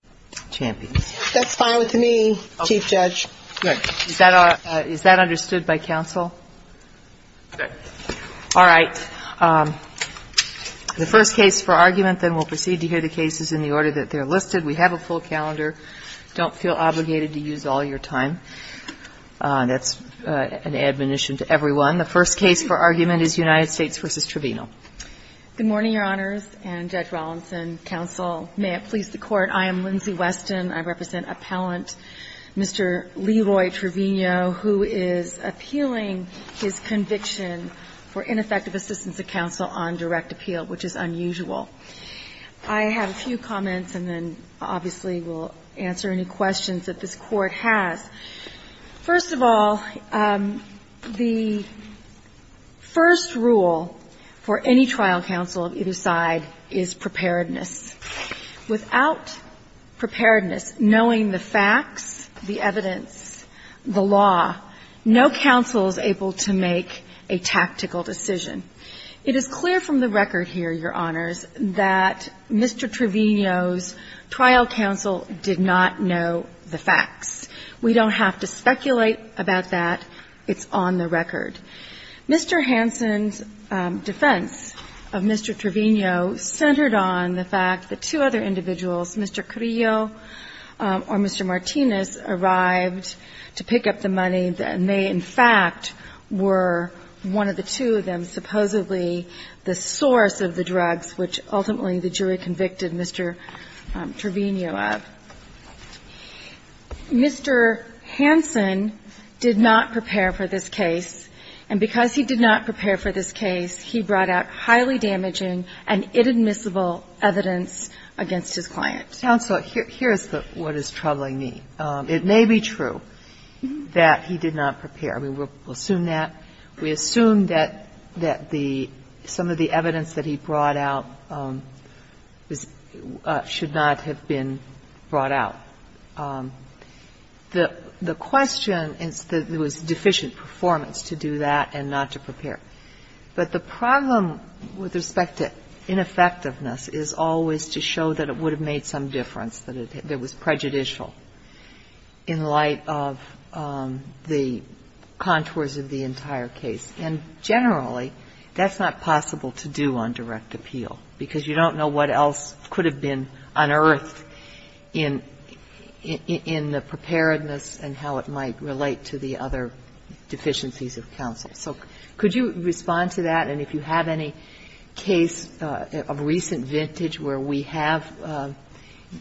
Good morning, Your Honors, and Judge Rollinson, counsel. May it please the Court, I am Lyndsay Weston. I represent appellant Mr. Leroy Trevino, who is appealing his conviction for ineffective assistance of counsel on direct appeal, which is unusual. I have a few comments, and then obviously we'll answer any questions that this Court has. First of all, the first rule for any trial counsel of either side is preparedness. Without preparedness, knowing the facts, the evidence, the law, no counsel is able to make a tactical decision. It is clear from the record here, Your Honors, that Mr. Trevino's trial counsel did not know the facts. We don't have to speculate about that. It's on the record. Mr. Hansen's defense of Mr. Trevino centered on the fact that two other individuals, Mr. Carrillo or Mr. Martinez, arrived to pick up the money, and they, in fact, were one of the two of them, supposedly the source of the drugs which ultimately the jury convicted Mr. Trevino of. Mr. Hansen did not prepare for this case, and because he did not prepare for this case, he brought out highly damaging and inadmissible evidence against his client. Sotomayor, counsel, here is what is troubling me. It may be true that he did not prepare. I mean, we'll assume that. We assume that some of the evidence that he brought out should not have been brought out. The question is that there was deficient performance to do that and not to prepare. But the problem with respect to ineffectiveness is always to show that it would have made some difference, that it was prejudicial in light of the contours of the entire case. And generally, that's not possible to do on direct appeal, because you don't know what else could have been unearthed in the preparedness and how it might relate to the other deficiencies of counsel. So could you, Mr. Trevino, respond to that? And if you have any case of recent vintage where we have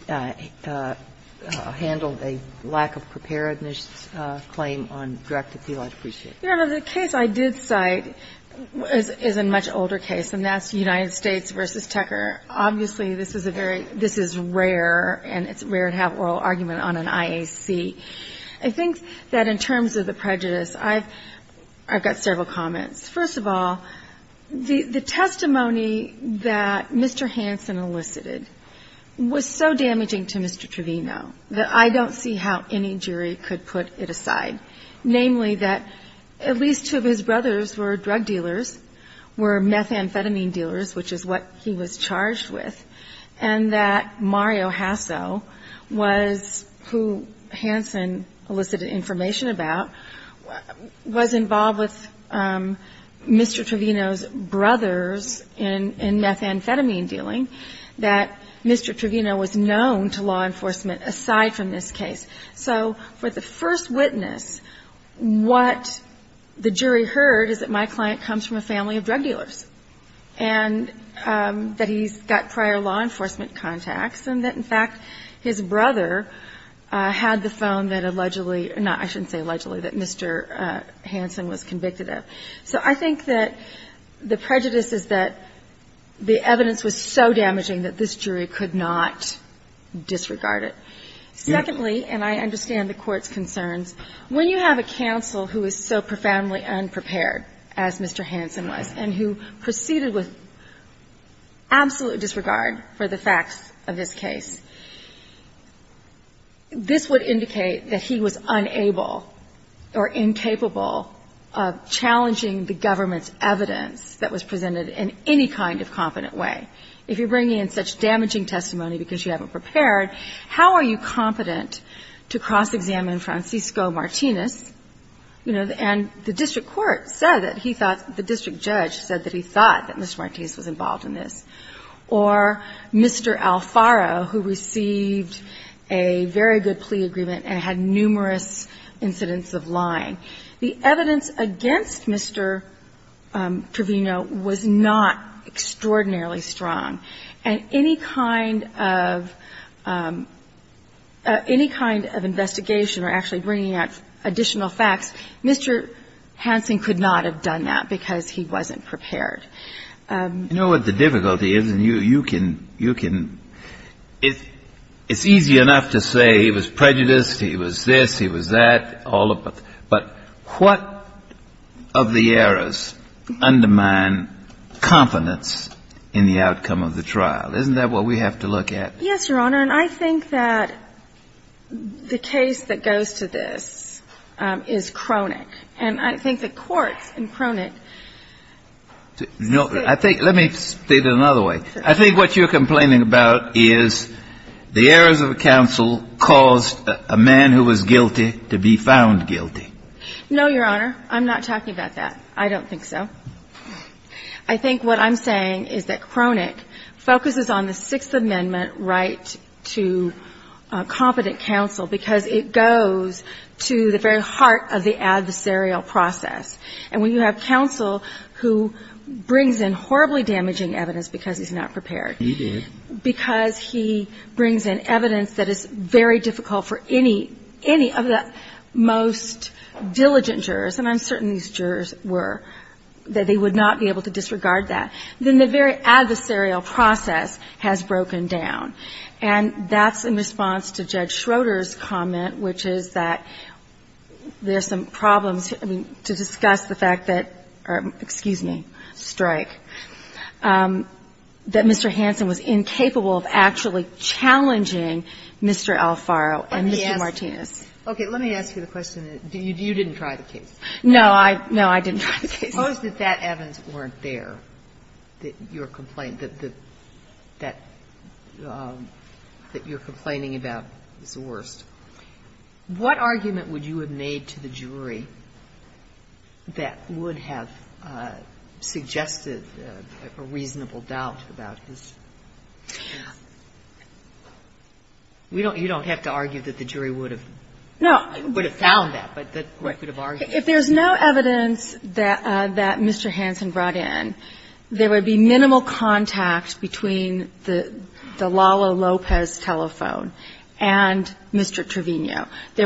handled a lack of preparedness claim on direct appeal, I'd appreciate it. Yeah. The case I did cite is a much older case, and that's United States v. Tecker. Obviously, this is a very rare, and it's rare to have oral argument on an IAC. I think that in terms of the prejudice, I've got several comments. First of all, the testimony that Mr. Hansen elicited was so damaging to Mr. Trevino that I don't see how any jury could put it aside. Namely, that at least two of his brothers were drug dealers, were methamphetamine dealers, which is what he was charged with, and that Mario Hasso was who Hansen elicited information about, was involved with Mr. Trevino's brothers in methamphetamine dealing, that Mr. Trevino was known to law enforcement aside from this case. So for the first witness, what the jury heard is that my client comes from a family of drug dealers, and that he's got prior law enforcement contacts, and that, in fact, his brother had the phone that allegedly or not, I shouldn't say allegedly, that Mr. Hansen was convicted of. So I think that the prejudice is that the evidence was so damaging that this jury could not disregard it. Secondly, and I understand the Court's concerns, when you have a counsel who is so profoundly unprepared, as Mr. Hansen was, and who proceeded with absolute disregard for the facts of this case, I think that the jury would be, this would indicate that he was unable or incapable of challenging the government's evidence that was presented in any kind of competent way. If you're bringing in such damaging testimony because you haven't prepared, how are you competent to cross-examine Francisco Martinez, you know, and the district court said that he thought the district judge said that he thought that Mr. Martinez was involved in this, or Mr. Alfaro, who received a very good plea agreement and had numerous incidents of lying. The evidence against Mr. Trevino was not extraordinarily strong. And any kind of investigation or actually bringing out additional facts, Mr. Hansen could not have done that because he wasn't prepared. Kennedy. You know what the difficulty is, and you can, you can, it's easy enough to say he was prejudiced, he was this, he was that, all of it. But what of the errors undermine confidence in the outcome of the trial? Isn't that what we have to look at? Harrington. Yes, Your Honor, and I think that the case that goes to this is chronic. And I think that courts in chronic. Kennedy. No, I think, let me state it another way. I think what you're complaining about is the errors of counsel caused a man who was guilty to be found guilty. Harrington. No, Your Honor, I'm not talking about that. I don't think so. I think what I'm saying is that chronic focuses on the Sixth Amendment right to competent counsel because it goes to the very heart of the adversarial process. And when you have counsel who brings in horribly damaging evidence because he's not prepared. Kennedy. He did. Harrington. Because he brings in evidence that is very difficult for any, any of the most diligent jurors, and I'm certain these jurors were, that they would not be able to disregard that, then the very adversarial process has broken down. And that's in response to Judge Schroeder's comment, which is that there's some problems to discuss the fact that, or excuse me, strike, that Mr. Hansen was incapable of actually challenging Mr. Alfaro and Mr. Martinez. Ginsburg. Let me ask you. Okay. Let me ask you the question. You didn't try the case. Harrington. No, I, no, I didn't try the case. Ginsburg. Suppose that that evidence weren't there, that your complaint, that, that your complaining about is the worst. What argument would you have made to the jury that would have suggested a reasonable doubt about his? You don't, you don't have to argue that the jury would have, would have found that, but that you would have argued. Harrington. If there's no evidence that, that Mr. Hansen brought in, there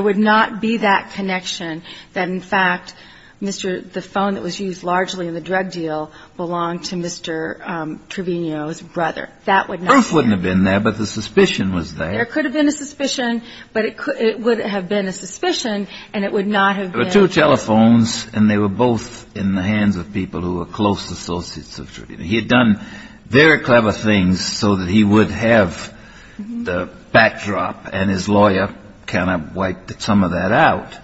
would not be that connection that, in fact, Mr., the phone that was used largely in the drug deal belonged to Mr. Trevino's brother. That would not have been there. Kennedy. The proof wouldn't have been there, but the suspicion was there. Harrington. There could have been a suspicion, but it could, it would have been a suspicion, and it would not have been. Kennedy. There were two telephones, and they were both in the hands of people who were close associates of Trevino. He had done very clever things so that he would have the backdrop, and his lawyer kind of wiped some of that out.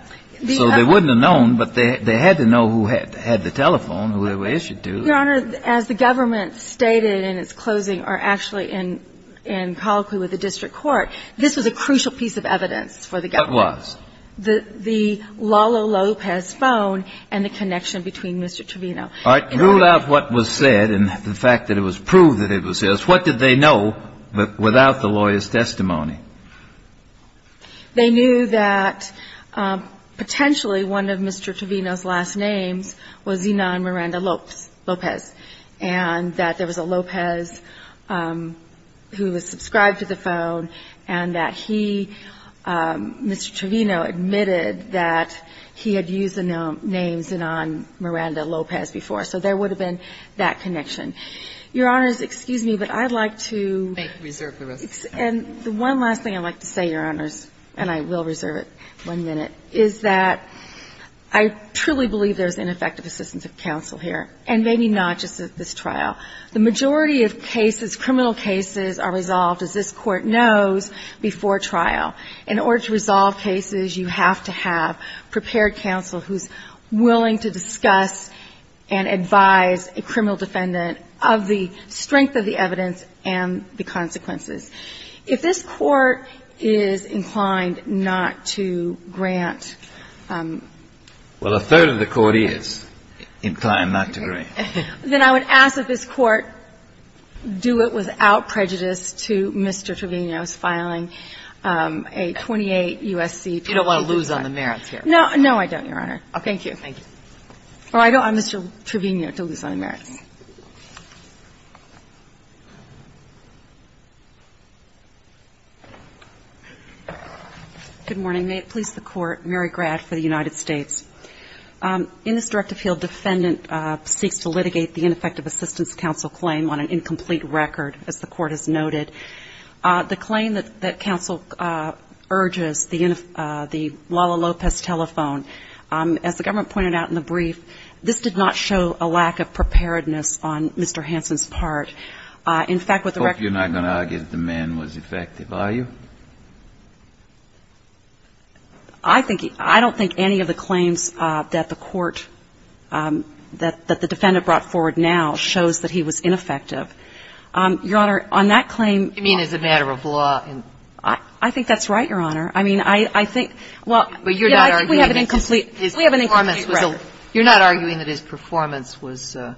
So they wouldn't have known, but they, they had to know who had, had the telephone, who they were issued to. Harrington. Your Honor, as the government stated in its closing, or actually in, in colloquy with the district court, this was a crucial piece of evidence for the government. Kennedy. What was? Harrington. The, the Lalo Lopez phone and the connection between Mr. Trevino. Kennedy. All right. Rule out what was said and the fact that it was proved that it was his. What did they know? But without the lawyer's testimony. Harrington. They knew that potentially one of Mr. Trevino's last names was Zinon Miranda Lopez, and that there was a Lopez who was subscribed to the phone and that he, Mr. Trevino admitted that he had used the name Zinon Miranda Lopez before. So there would have been that connection. Your Honors, excuse me, but I'd like to make, reserve the rest of the time. And the one last thing I'd like to say, Your Honors, and I will reserve it one minute, is that I truly believe there's ineffective assistance of counsel here, and maybe not just at this trial. The majority of cases, criminal cases, are resolved, as this Court knows, before trial. In order to resolve cases, you have to have prepared counsel who's willing to discuss and advise a criminal defendant of the strength of the evidence and the consequences. If this Court is inclined not to grant ---- Breyer. Well, a third of the Court is inclined not to grant. Harrington. Then I would ask that this Court do it without prejudice to Mr. Trevino's filing a 28 U.S.C. ---- Kagan. You don't want to lose on the merits here. Harrington. No. No, I don't, Your Honor. Kagan. Okay. Harrington. Thank you. Kagan. Well, I don't want Mr. Trevino to lose on the merits. Good morning. May it please the Court, Mary Grad for the United States. In this directive field, defendant seeks to litigate the ineffective assistance of counsel claim on an incomplete record, as the Court has noted. The claim that counsel urges, the Lala Lopez telephone, as the government pointed out in the brief, this did not show a lack of preparedness on Mr. Hansen's part. In fact, with the record ---- Breyer. I hope you're not going to argue that the man was effective, are you? Harrington. I think he ---- I don't think any of the claims that the Court, that the defendant brought forward now shows that he was ineffective. Your Honor, on that claim ---- Ginsburg. You mean as a matter of law? Harrington. I think that's right, Your Honor. I mean, I think ---- Breyer. Well, you're not arguing that his performance was up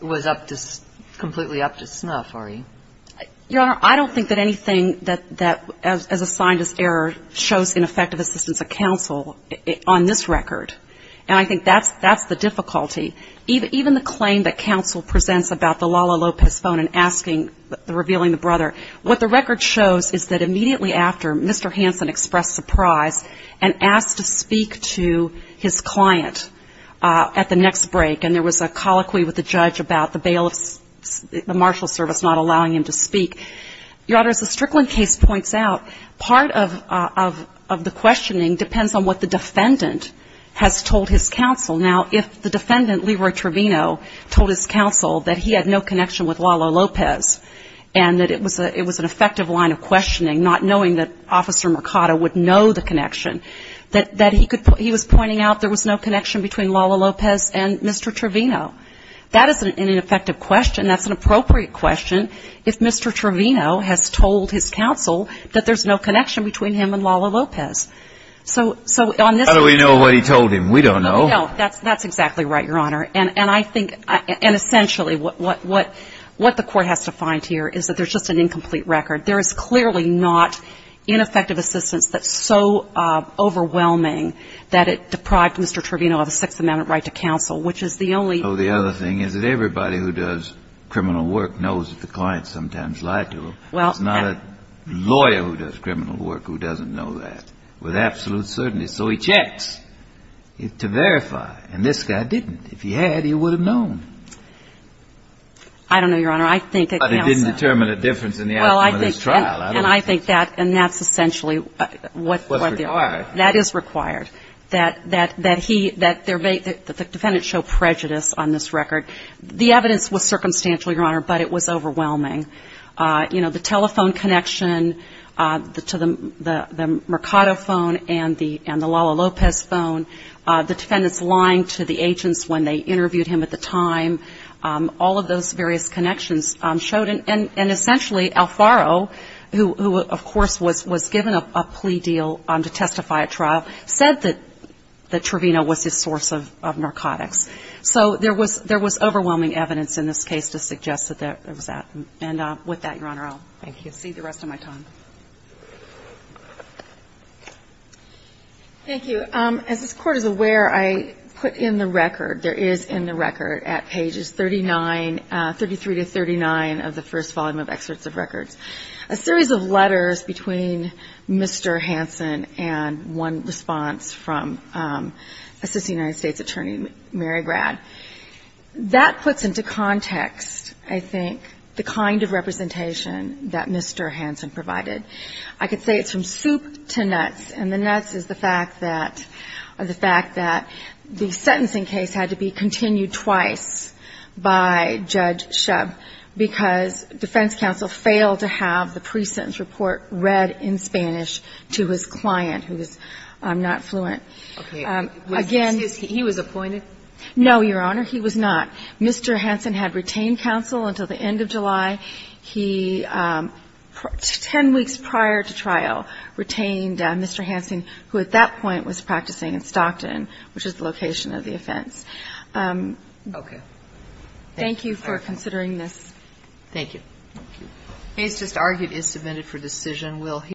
to ---- completely up to snuff, are you? Harrington. Your Honor, I don't think that anything that as assigned as error shows ineffective assistance of counsel on this record. And I think that's the difficulty. Even the claim that counsel presents about the Lala Lopez phone and asking, revealing the brother, what the record shows is that immediately after, Mr. Hansen expressed surprise and asked to speak to his client at the next break. And there was a colloquy with the judge about the bail of ---- the marshal service not allowing him to speak. Your Honor, as the Strickland case points out, part of the questioning depends on what the defendant has told his counsel. Now, if the defendant, Leroy Trevino, told his counsel that he had no connection with Lala Lopez and that it was an effective line of questioning, not knowing that Officer Mercado would know the connection, that he was pointing out there was no connection between Lala Lopez and Mr. Trevino, that is an ineffective question. That's an appropriate question if Mr. Trevino has told his counsel that there's no connection between him and Lala Lopez. So on this ---- Breyer. How do we know what he told him? We don't know. No, that's exactly right, Your Honor. And I think ---- and essentially what the Court has to find here is that there's just an incomplete record. There is clearly not ineffective assistance that's so overwhelming that it deprived Mr. Trevino of a sixth amendment right to counsel, which is the only ---- Well, the other thing is that everybody who does criminal work knows that the client sometimes lied to him. It's not a lawyer who does criminal work who doesn't know that with absolute certainty. So he checks to verify. And this guy didn't. If he had, he would have known. I don't know, Your Honor. I think that counsel ---- But he didn't determine a difference in the outcome of this trial. I don't think so. And I think that ---- and that's essentially what they are. It was required. That is required, that he ---- that the defendant show prejudice on this record. The evidence was circumstantial, Your Honor, but it was overwhelming. You know, the telephone connection to the Mercado phone and the Lala Lopez phone, the defendant's lying to the agents when they interviewed him at the time, all of those various connections showed. And essentially Alfaro, who of course was given a plea deal to testify at trial, said that Trevino was his source of narcotics. So there was overwhelming evidence in this case to suggest that there was that. And with that, Your Honor, I'll thank you. I'll cede the rest of my time. Thank you. As this Court is aware, I put in the record, there is in the record at pages 39, 33 to 39 of the first volume of Excerpts of Records, a series of letters between Mr. Hansen and one response from Assistant United States Attorney Mary Grad. That puts into context, I think, the kind of representation that Mr. Hansen provided. I could say it's from soup to nuts, and the nuts is the fact that the sentencing case had to be continued twice by Judge Shub, because defense counsel failed to have the pre-sentence report read in Spanish to his client, who is not fluent. Again he was appointed? No, Your Honor, he was not. Mr. Hansen had retained counsel until the end of July. He, 10 weeks prior to trial, retained Mr. Hansen, who at that point was practicing in Stockton, which is the location of the offense. Okay. Thank you for considering this. Thank you.